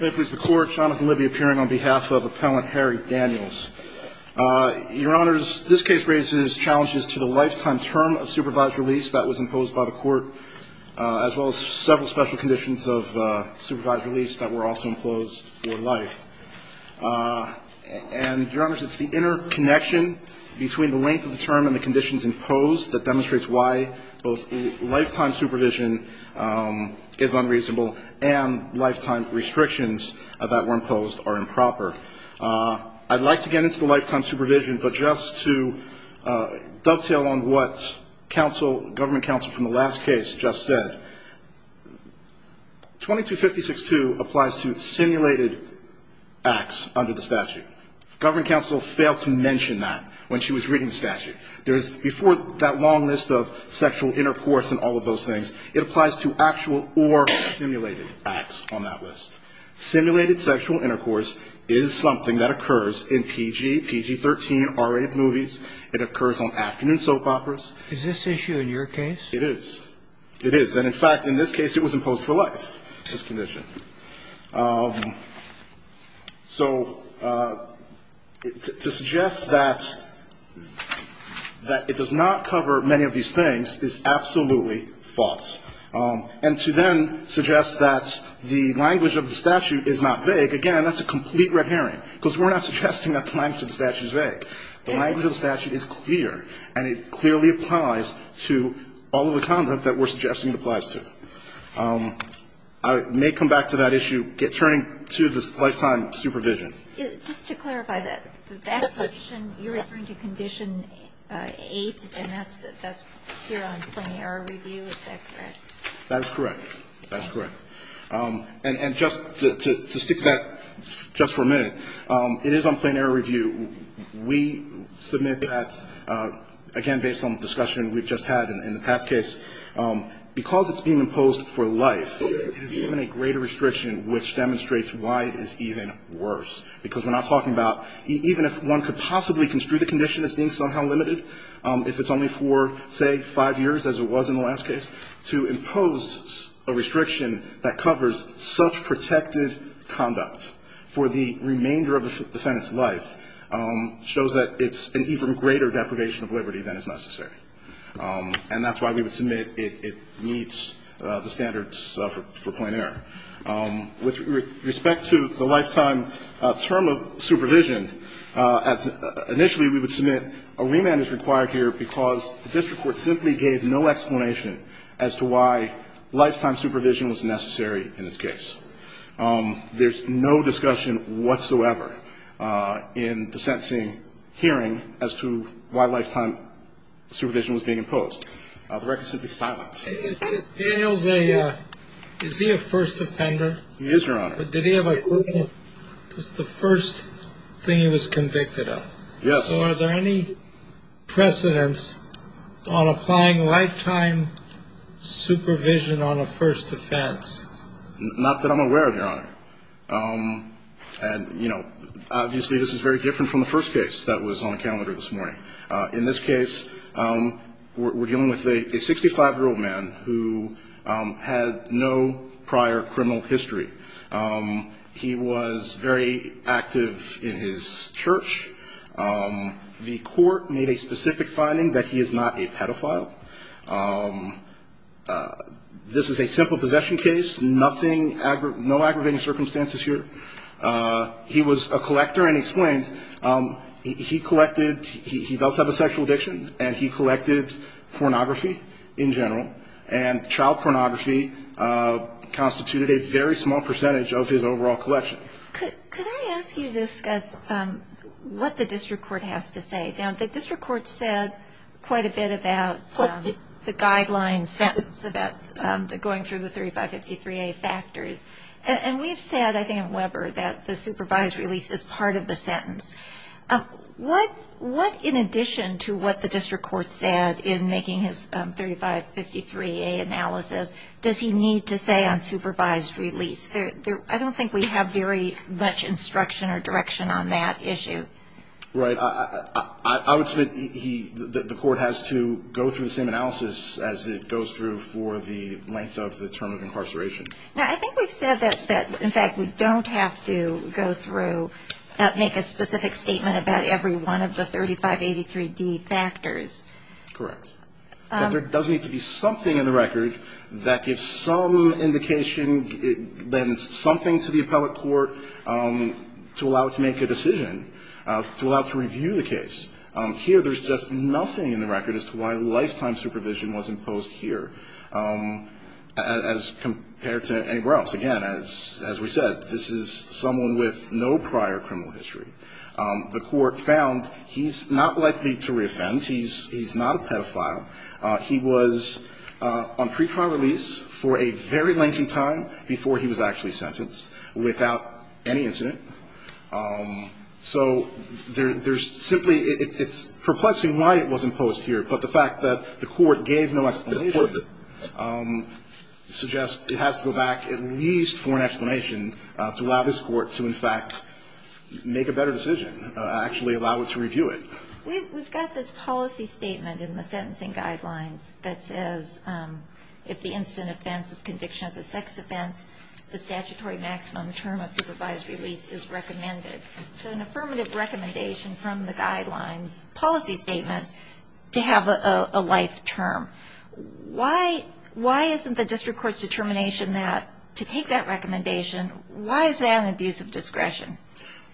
Your Honor, this case raises challenges to the lifetime term of supervised release that was imposed by the court, as well as several special conditions of supervised release that were also imposed for life. And, Your Honors, it's the interconnection between the length of the term and the conditions imposed that demonstrates why both lifetime supervision is unreasonable and lifetime restrictions that were imposed are improper. I'd like to get into the lifetime supervision, but just to dovetail on what government counsel from the last case just said, 2256-2 applies to simulated acts under the statute. Government counsel failed to mention that when she was reading the statute. Before that long list of sexual intercourse and all of those things, it applies to actual or simulated acts on that list. Simulated sexual intercourse is something that occurs in PG, PG-13, R-rated movies. It occurs on afternoon soap operas. Is this issue in your case? It is. It is. And, in fact, in this case, it was imposed for life, this condition. So to suggest that it does not cover many of these things is absolutely false. And to then suggest that the language of the statute is not vague, again, that's a complete red herring, because we're not suggesting that the language of the statute is vague. The language of the statute is clear, and it clearly applies to all of the conduct that we're suggesting it applies to. I may come back to that issue. Turning to the lifetime supervision. Just to clarify that, that condition, you're referring to Condition 8, and that's here on Plain Error Review. Is that correct? That is correct. That is correct. And just to stick to that just for a minute, it is on Plain Error Review. We submit that, again, based on the discussion we've just had in the past case, because it's being imposed for life, it is given a greater restriction which demonstrates why it is even worse, because we're not talking about even if one could possibly construe the condition as being somehow limited, if it's only for, say, five years as it was in the last case, to impose a restriction that covers such protected conduct for the remainder of the defendant's life shows that it's an even greater deprivation of liberty than is necessary. And that's why we would submit it meets the standards for plain error. With respect to the lifetime term of supervision, as initially we would submit a remand is required here because the district court simply gave no explanation as to why lifetime supervision was necessary in this case. There's no discussion whatsoever in the sentencing hearing as to why lifetime supervision was being imposed. The record simply silent. Is Daniel a first offender? He is, Your Honor. Did he have a criminal? This is the first thing he was convicted of. Yes. So are there any precedents on applying lifetime supervision on a first offense? Not that I'm aware of, Your Honor. And, you know, obviously this is very different from the first case that was on the calendar this morning. In this case, we're dealing with a 65-year-old man who had no prior criminal history. He was very active in his church. The court made a specific finding that he is not a pedophile. This is a simple possession case. Nothing, no aggravating circumstances here. He was a collector and explained he collected, he does have a sexual addiction, and he collected pornography in general. And child pornography constituted a very small percentage of his overall collection. Could I ask you to discuss what the district court has to say? Now, the district court said quite a bit about the guideline sentence about going through the 3553A factors. And we've said, I think at Weber, that the supervised release is part of the sentence. What, in addition to what the district court said in making his 3553A analysis, does he need to say on supervised release? I don't think we have very much instruction or direction on that issue. Right. I would submit the court has to go through the same analysis as it goes through for the length of the term of incarceration. Now, I think we've said that, in fact, we don't have to go through, make a specific statement about every one of the 3583D factors. Correct. But there does need to be something in the record that gives some indication, then something to the appellate court to allow it to make a decision, to allow it to review the case. Here, there's just nothing in the record as to why lifetime supervision was imposed here as compared to anywhere else. Again, as we said, this is someone with no prior criminal history. The court found he's not likely to reoffend. He's not a pedophile. He was on pretrial release for a very lengthy time before he was actually sentenced, without any incident. So there's simply ‑‑ it's perplexing why it was imposed here. But the fact that the court gave no explanation suggests it has to go back at least for an explanation to allow this court to, in fact, make a better decision, actually allow it to review it. We've got this policy statement in the sentencing guidelines that says if the instant offense of conviction is a sex offense, the statutory maximum term of supervised release is recommended. So an affirmative recommendation from the guidelines policy statement to have a life term. Why isn't the district court's determination that to take that recommendation, why is that an abuse of discretion?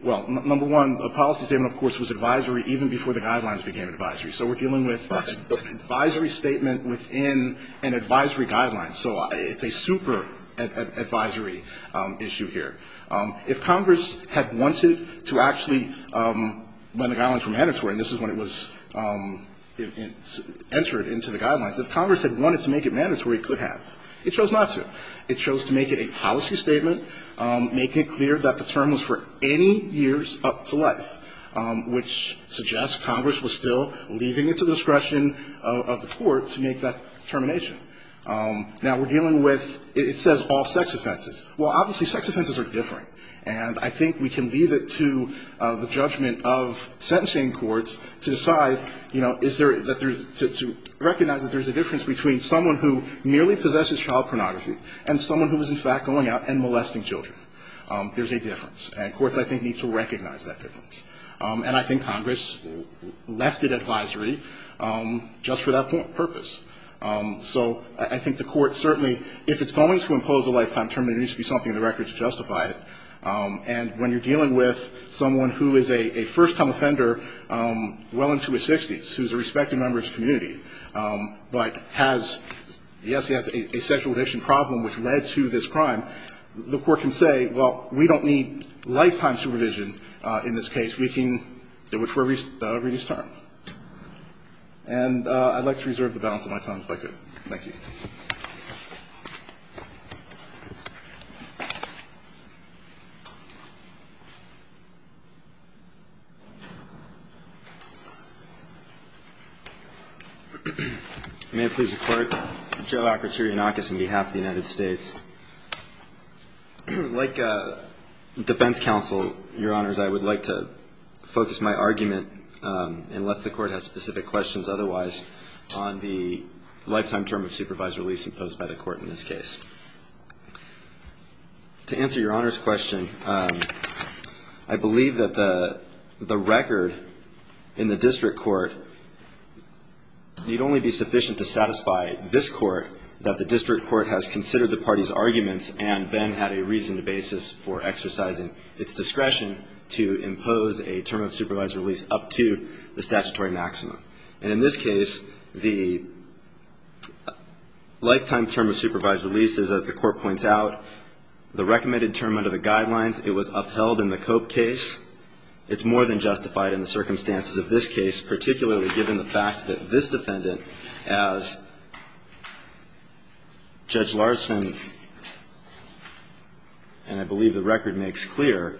Well, number one, the policy statement, of course, was advisory even before the guidelines became advisory. So we're dealing with an advisory statement within an advisory guideline. So it's a super advisory issue here. If Congress had wanted to actually ‑‑ when the guidelines were mandatory, and this is when it was entered into the guidelines, if Congress had wanted to make it mandatory, it could have. It chose not to. It chose to make it a policy statement, making it clear that the term was for any years up to life, which suggests Congress was still leaving it to discretion of the court to make that determination. Now, we're dealing with ‑‑ it says all sex offenses. Well, obviously, sex offenses are different. And I think we can leave it to the judgment of sentencing courts to decide, you know, is there ‑‑ to recognize that there's a difference between someone who merely possesses child pornography and someone who is, in fact, going out and molesting children. There's a difference. And courts, I think, need to recognize that difference. And I think Congress left it advisory just for that purpose. So I think the court certainly, if it's going to impose a lifetime term, there needs to be something in the records to justify it. And when you're dealing with someone who is a first‑time offender well into his 60s, who's a respected member of his community, but has, yes, he has a sexual addiction problem which led to this crime, the court can say, well, we don't need lifetime supervision in this case. We can ‑‑ it would reduce term. And I'd like to reserve the balance of my time if I could. Thank you. May it please the Court. Joe Acroturianakis on behalf of the United States. Like defense counsel, Your Honors, I would like to focus my argument, unless the court has specific questions otherwise, on the lifetime term of supervised release imposed by the court in this case. To answer Your Honor's question, I believe that the record in the district court need only be sufficient to satisfy this court, that the district court has considered the party's arguments and then had a reasoned basis for exercising its discretion to impose a term of supervised release up to the statutory maximum. And in this case, the lifetime term of supervised release is, as the court points out, the recommended term under the guidelines. It was upheld in the Cope case. It's more than justified in the circumstances of this case, particularly given the fact that this defendant, as Judge Larson, and I believe the record makes clear,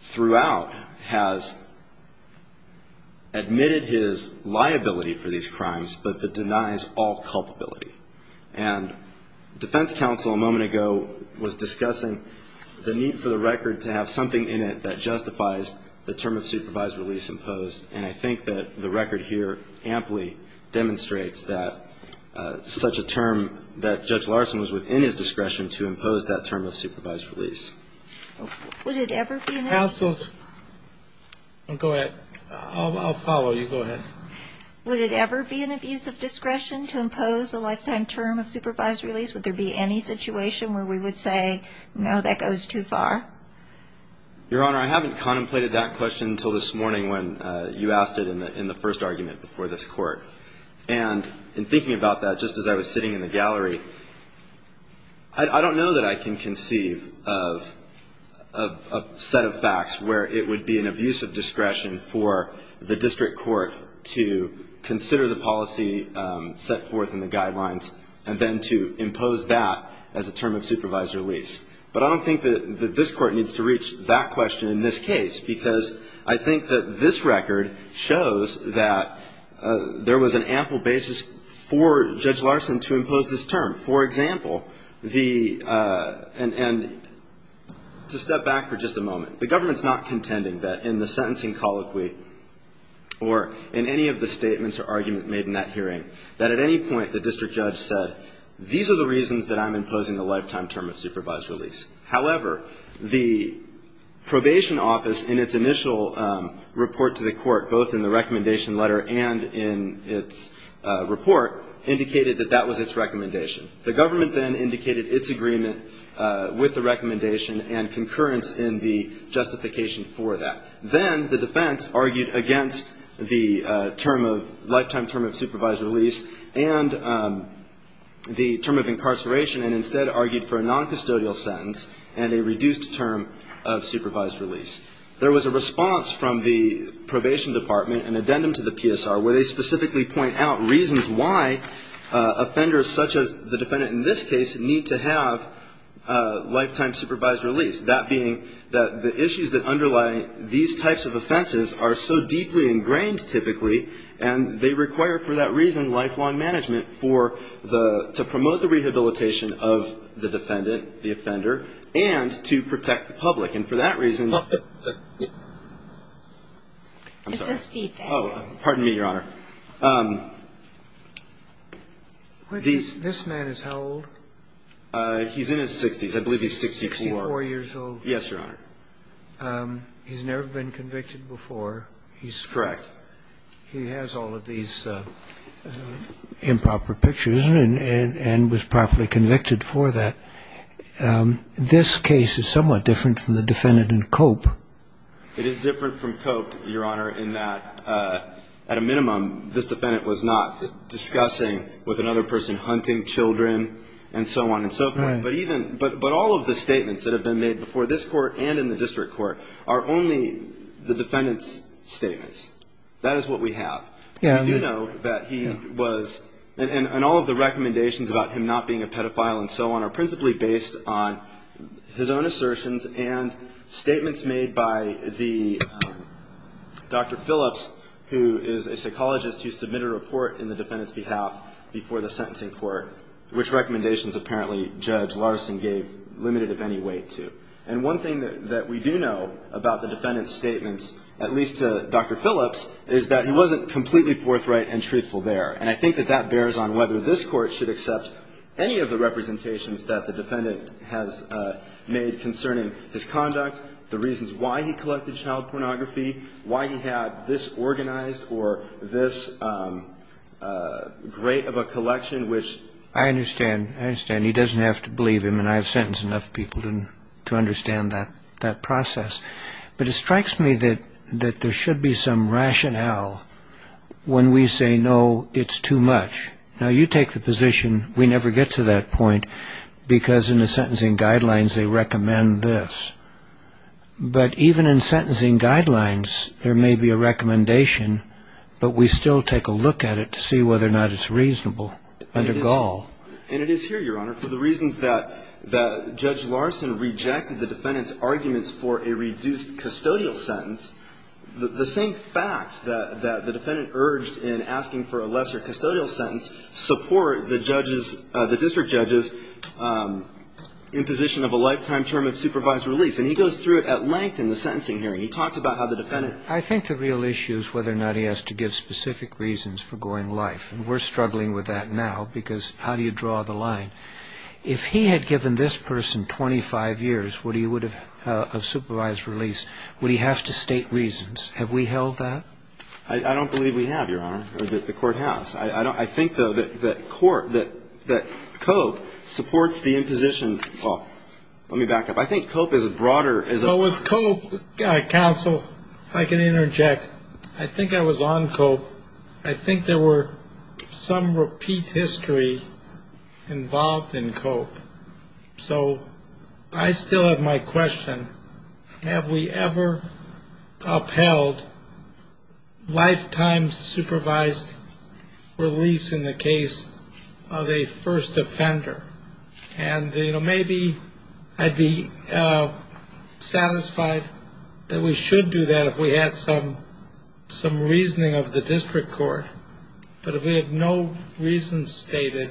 throughout has admitted his liability for these crimes, but denies all culpability. And defense counsel a moment ago was discussing the need for the record to have something in it that justifies the term of supervised release imposed. And I think that the record here amply demonstrates that such a term, that Judge Larson was within his discretion to impose that term of supervised release. Counsel, go ahead. I'll follow you. Go ahead. Would it ever be an abuse of discretion to impose a lifetime term of supervised release? Would there be any situation where we would say, no, that goes too far? Your Honor, I haven't contemplated that question until this morning when you asked it in the first argument before this court. And in thinking about that, just as I was sitting in the gallery, I don't know that I can conceive of a set of facts where it would be an abuse of discretion for the district court to consider the policy set forth in the guidelines and then to impose that as a term of supervised release. But I don't think that this Court needs to reach that question in this case, because I think that this record shows that there was an ample basis for Judge Larson to impose this term. For example, the — and to step back for just a moment, the government's not contending that in the sentencing colloquy or in any of the statements or argument made in that hearing, that at any point the district judge said, these are the reasons that I'm imposing a lifetime term of supervised release. However, the probation office in its initial report to the Court, both in the recommendation letter and in its report, indicated that that was its recommendation. The government then indicated its agreement with the recommendation and concurrence in the justification for that. And the term of incarceration, and instead argued for a noncustodial sentence and a reduced term of supervised release. There was a response from the probation department, an addendum to the PSR, where they specifically point out reasons why offenders such as the defendant in this case need to have lifetime supervised release. That being that the issues that underlie these types of offenses are so deeply related to the defendant's life, and so there's a reason, lifelong management, for the — to promote the rehabilitation of the defendant, the offender, and to protect the public. And for that reason — It says feedback. Oh, pardon me, Your Honor. This man is how old? He's in his 60s. I believe he's 64. 64 years old. Yes, Your Honor. He's never been convicted before. He's — Correct. He has all of these improper pictures and was properly convicted for that. This case is somewhat different from the defendant in Cope. It is different from Cope, Your Honor, in that, at a minimum, this defendant was not discussing with another person hunting children and so on and so forth. Right. But even — but all of the statements that have been made before this court and in the district court are only the defendant's statements. That is what we have. We do know that he was — and all of the recommendations about him not being a pedophile and so on are principally based on his own assertions and statements made by the — Dr. Phillips, who is a psychologist, who submitted a report in the defendant's behalf before the sentencing court, which recommendations, apparently, Judge Larson gave limited, if any, weight to. And one thing that we do know about the defendant's statements, at least to Dr. Phillips, is that he wasn't completely forthright and truthful there. And I think that that bears on whether this court should accept any of the representations that the defendant has made concerning his conduct, the reasons why he collected child pornography, why he had this organized or this great of a collection, which — I understand. I understand. He doesn't have to believe him. And I have sentenced enough people to understand that process. But it strikes me that there should be some rationale when we say, no, it's too much. Now, you take the position we never get to that point because in the sentencing guidelines they recommend this. But even in sentencing guidelines, there may be a recommendation, but we still take a look at it to see whether or not it's reasonable under Gall. And it is here, Your Honor, for the reasons that Judge Larson rejected the defendant's arguments for a reduced custodial sentence. The same facts that the defendant urged in asking for a lesser custodial sentence the district judges in position of a lifetime term of supervised release. And he goes through it at length in the sentencing hearing. He talks about how the defendant — I think the real issue is whether or not he has to give specific reasons for going live. And we're struggling with that now because how do you draw the line? If he had given this person 25 years of supervised release, would he have to state reasons? Have we held that? I don't believe we have, Your Honor, or that the court has. I think, though, that COPE supports the imposition. Let me back up. I think COPE is broader. With COPE, counsel, if I can interject, I think I was on COPE. I think there were some repeat history involved in COPE. So I still have my question. Have we ever upheld lifetime supervised release in the case of a first offender? And, you know, maybe I'd be satisfied that we should do that if we had some reasoning of the district court. But if we have no reasons stated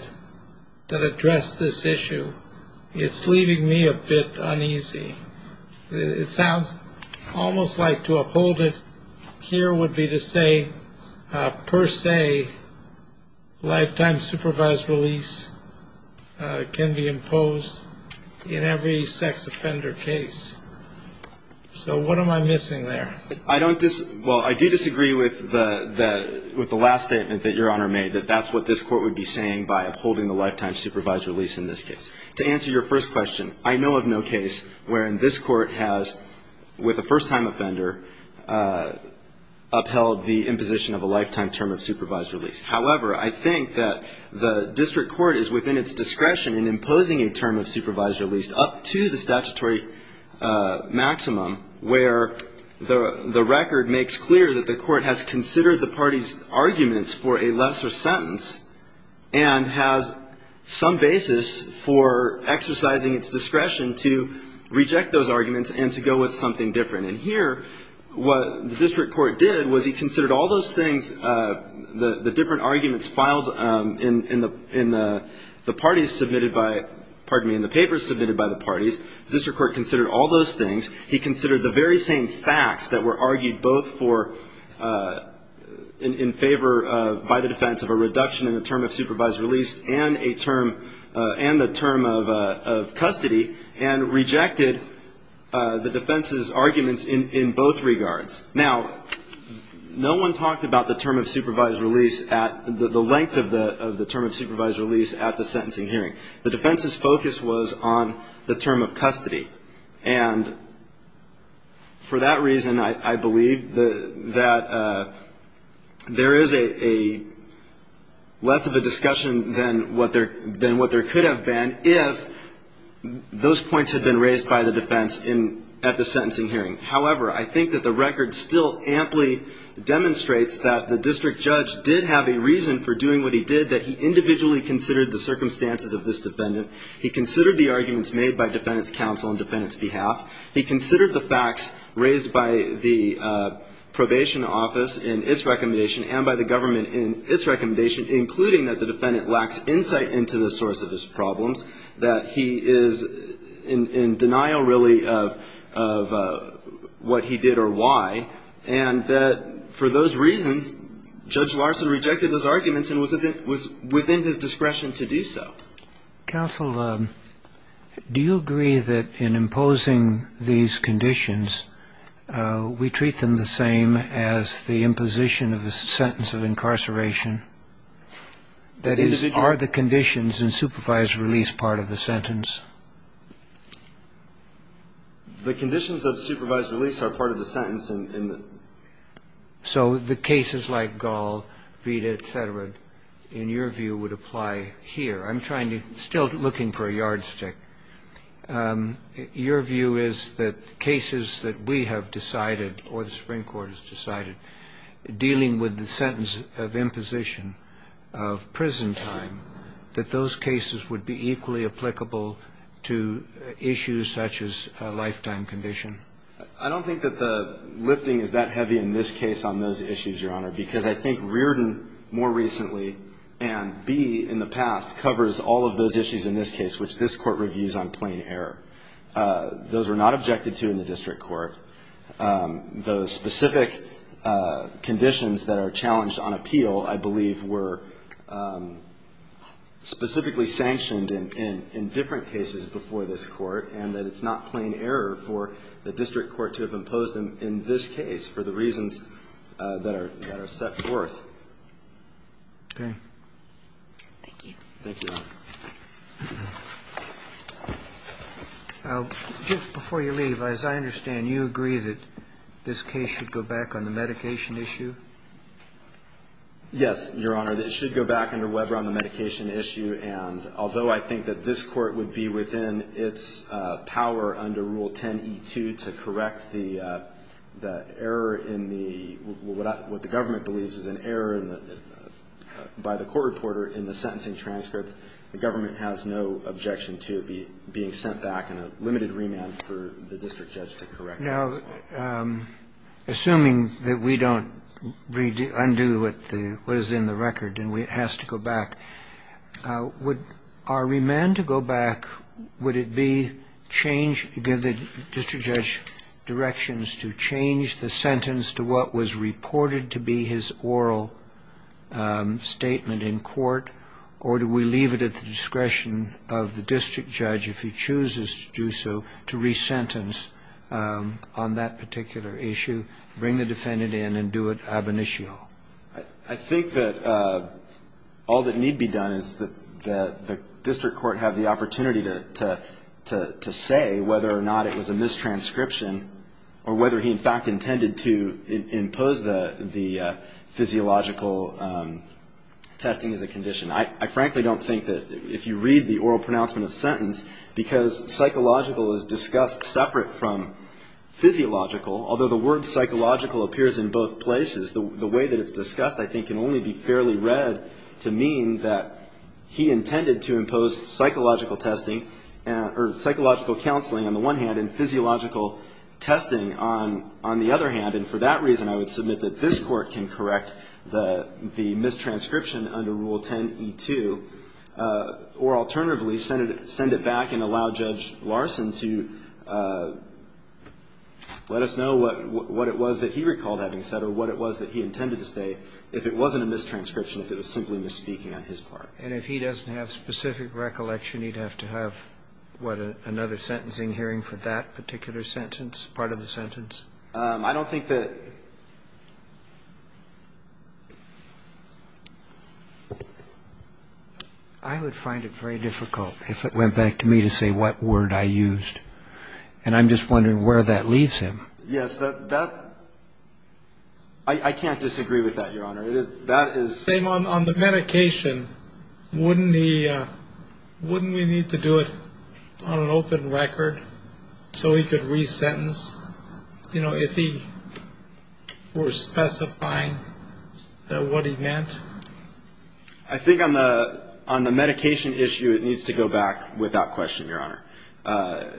that address this issue, it's leaving me a bit uneasy. It sounds almost like to uphold it here would be to say, per se, lifetime supervised release can be imposed in every sex offender case. So what am I missing there? Well, I do disagree with the last statement that Your Honor made, that that's what this court would be saying by upholding the lifetime supervised release in this case. To answer your first question, I know of no case wherein this court has, with a first-time offender, upheld the imposition of a lifetime term of supervised release. However, I think that the district court is within its discretion in imposing a term of supervised release, at least up to the statutory maximum, where the record makes clear that the court has considered the party's arguments for a lesser sentence and has some basis for exercising its discretion to reject those arguments and to go with something different. And here, what the district court did was he considered all those things, the different arguments filed in the parties submitted by, pardon me, in the papers submitted by the parties. The district court considered all those things. He considered the very same facts that were argued both for, in favor by the defense of a reduction in the term of supervised release and a term, and the term of custody and rejected the defense's arguments in both regards. Now, no one talked about the term of supervised release at, the length of the term of supervised release at the sentencing hearing. The defense's focus was on the term of custody. And for that reason, I believe that there is a less of a discussion than what there could have been if those points had been raised by the defense at the sentencing hearing. However, I think that the record still amply demonstrates that the district judge did have a reason for doing what he did, that he individually considered the circumstances of this defendant. He considered the arguments made by defendant's counsel and defendant's behalf. He considered the facts raised by the probation office in its recommendation and by the government in its recommendation, including that the defendant lacks insight into the source of his problems, that he is in denial, really, of what he did or why, and that for those reasons Judge Larson rejected those arguments and was within his discretion to do so. Counsel, do you agree that in imposing these conditions, we treat them the same as the imposition of the sentence of incarceration? That is, are the conditions in supervised release part of the sentence? The conditions of supervised release are part of the sentence in the ‑‑ So the cases like Gall, Vita, et cetera, in your view, would apply here. I'm trying to ‑‑ still looking for a yardstick. Your view is that cases that we have decided or the Supreme Court has decided, dealing with the sentence of imposition of prison time, that those cases would be equally applicable to issues such as a lifetime condition? I don't think that the lifting is that heavy in this case on those issues, Your Honor, because I think Rearden more recently and B in the past covers all of those issues in this case, which this Court reviews on plain error. Those were not objected to in the district court. The specific conditions that are challenged on appeal, I believe, were specifically sanctioned in different cases before this Court, and that it's not plain error for the district court to have imposed them in this case for the reasons that are set forth. Thank you. Thank you, Your Honor. Just before you leave, as I understand, you agree that this case should go back on the medication issue? Yes, Your Honor. It should go back under Weber on the medication issue. And although I think that this Court would be within its power under Rule 10e2 to correct the error in the ‑‑ what the government believes is an error by the court reporter in the sentencing transcript, the government has no objection to it being sent back in a limited remand for the district judge to correct it. Now, assuming that we don't undo what is in the record and it has to go back, would our remand to go back, would it be change, give the district judge directions to change the sentence to what was reported to be his oral statement in court? Or do we leave it at the discretion of the district judge, if he chooses to do so, to resentence on that particular issue, bring the defendant in and do it ab initio? I think that all that need be done is that the district court have the opportunity to say whether or not it was a mistranscription or whether he in fact intended to impose the physiological testing as a condition. I frankly don't think that if you read the oral pronouncement of the sentence, because psychological is discussed separate from physiological, although the word psychological appears in both places, the way that it's discussed, I think, can only be fairly read to mean that he intended to impose psychological testing or psychological counseling on the one hand and physiological testing on the other hand. And for that reason, I would submit that this Court can correct the mistranscription under Rule 10e2 or alternatively send it back and allow Judge Larson to let us know what it was that he recalled having said or what it was that he intended to say if it wasn't a mistranscription, if it was simply misspeaking on his part. And if he doesn't have specific recollection, he'd have to have, what, another sentencing hearing for that particular sentence, part of the sentence? I don't think that ---- I would find it very difficult if it went back to me to say what word I used. And I'm just wondering where that leaves him. Yes. That ---- I can't disagree with that, Your Honor. That is ---- Same on the medication. Wouldn't he need to do it on an open record so he could resentence, you know, if he were specifying what he meant? I think on the medication issue, it needs to go back without question, Your Honor.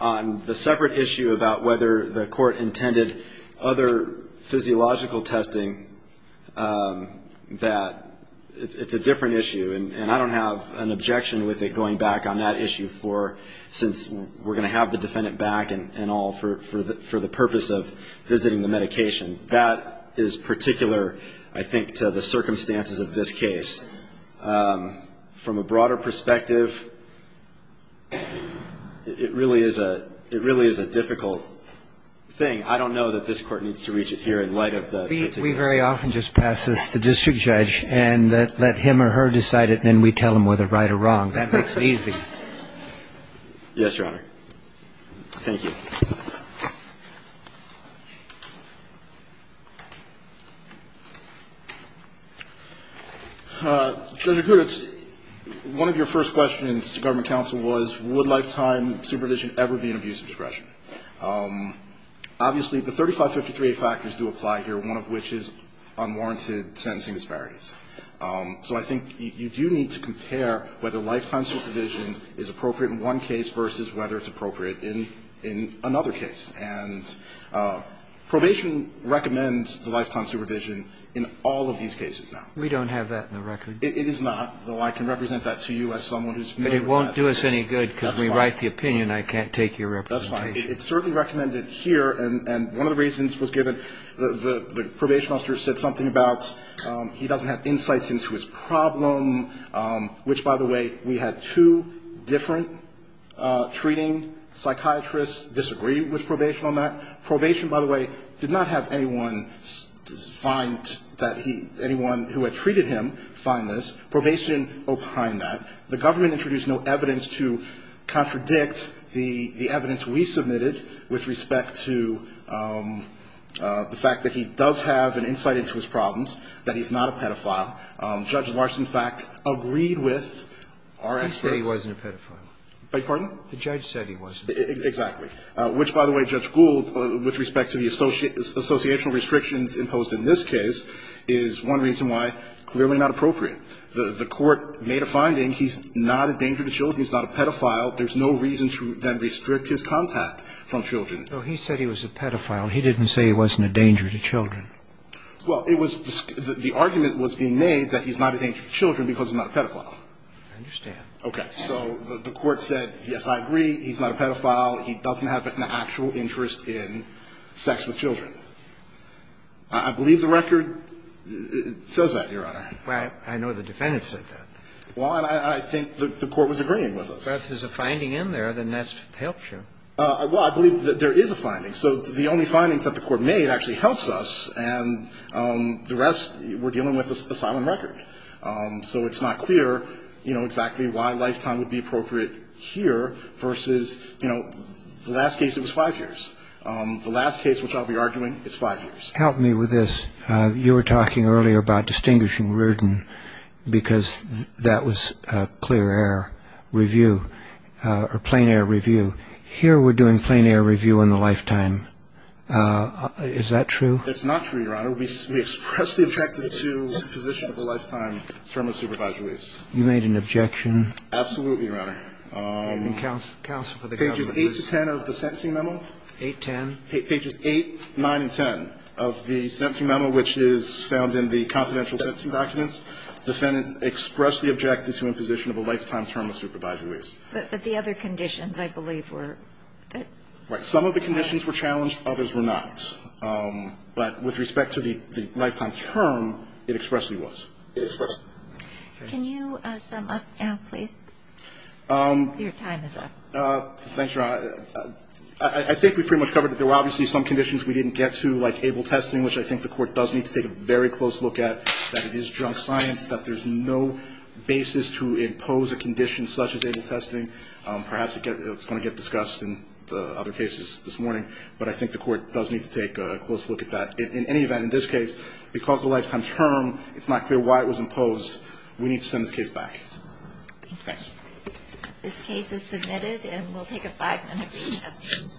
On the separate issue about whether the court intended other physiological testing, that it's a different issue. And I don't have an objection with it going back on that issue for since we're going to have the defendant back and all for the purpose of visiting the medication. That is particular, I think, to the circumstances of this case. From a broader perspective, it really is a difficult thing. I don't know that this Court needs to reach it here in light of the particular circumstances. We very often just pass this to the district judge and let him or her decide it, and then we tell them whether right or wrong. That makes it easy. Yes, Your Honor. Thank you. Judge Akuts, one of your first questions to government counsel was would lifetime supervision ever be an abuse of discretion? Obviously, the 3553a factors do apply here, one of which is unwarranted sentencing disparities. So I think you do need to compare whether lifetime supervision is appropriate in one case versus whether it's appropriate in another case. And probation recommends the lifetime supervision in all of these cases now. We don't have that in the record. It is not, though I can represent that to you as someone who's familiar with that. But it won't do us any good because we write the opinion. I can't take your representation. That's fine. It's certainly recommended here, and one of the reasons was given, the probation officer said something about he doesn't have insights into his problem, which, by the way, we had two different treating psychiatrists disagree with probation on that. Probation, by the way, did not have anyone find that he, anyone who had treated him find this. Probation opined that. The government introduced no evidence to contradict the evidence we submitted with respect to the fact that he does have an insight into his problems, that he's not a pedophile. Judge Larson, in fact, agreed with our experts. He said he wasn't a pedophile. Pardon? The judge said he wasn't. Exactly. Which, by the way, Judge Gould, with respect to the associational restrictions imposed in this case, is one reason why clearly not appropriate. The Court made a finding. He's not a danger to children. He's not a pedophile. There's no reason to then restrict his contact from children. No, he said he was a pedophile. He didn't say he wasn't a danger to children. Well, it was the argument was being made that he's not a danger to children because he's not a pedophile. I understand. Okay. So the Court said, yes, I agree, he's not a pedophile, he doesn't have an actual interest in sex with children. I believe the record says that, Your Honor. Well, I know the defendant said that. Well, and I think the Court was agreeing with us. But if there's a finding in there, then that helps you. Well, I believe that there is a finding. So the only findings that the Court made actually helps us, and the rest we're dealing with a silent record. So it's not clear, you know, exactly why lifetime would be appropriate here versus, you know, the last case it was five years. The last case, which I'll be arguing, it's five years. Help me with this. You were talking earlier about distinguishing Reardon because that was clear air review or plain air review. Here we're doing plain air review in the lifetime. Is that true? It's not true, Your Honor. We expressly objected to imposition of a lifetime term of supervised release. You made an objection? Absolutely, Your Honor. Counsel for the government, please. Pages 8 to 10 of the sentencing memo. 8, 10. Pages 8, 9, and 10 of the sentencing memo, which is found in the confidential sentencing documents. Defendants expressly objected to imposition of a lifetime term of supervised release. But the other conditions, I believe, were that the other conditions were challenged. Right. Some of the conditions were challenged. Others were not. But with respect to the lifetime term, it expressly was. It expressly was. Can you sum up now, please? Your time is up. Thanks, Your Honor. I think we pretty much covered it. There were obviously some conditions we didn't get to, like able testing, which I think the Court does need to take a very close look at, that it is junk science, that there's no basis to impose a condition such as able testing. Perhaps it's going to get discussed in the other cases this morning. But I think the Court does need to take a close look at that. In any event, in this case, because the lifetime term, it's not clear why it was imposed. We need to send this case back. Thank you. This case is submitted, and we'll take a five-minute recess.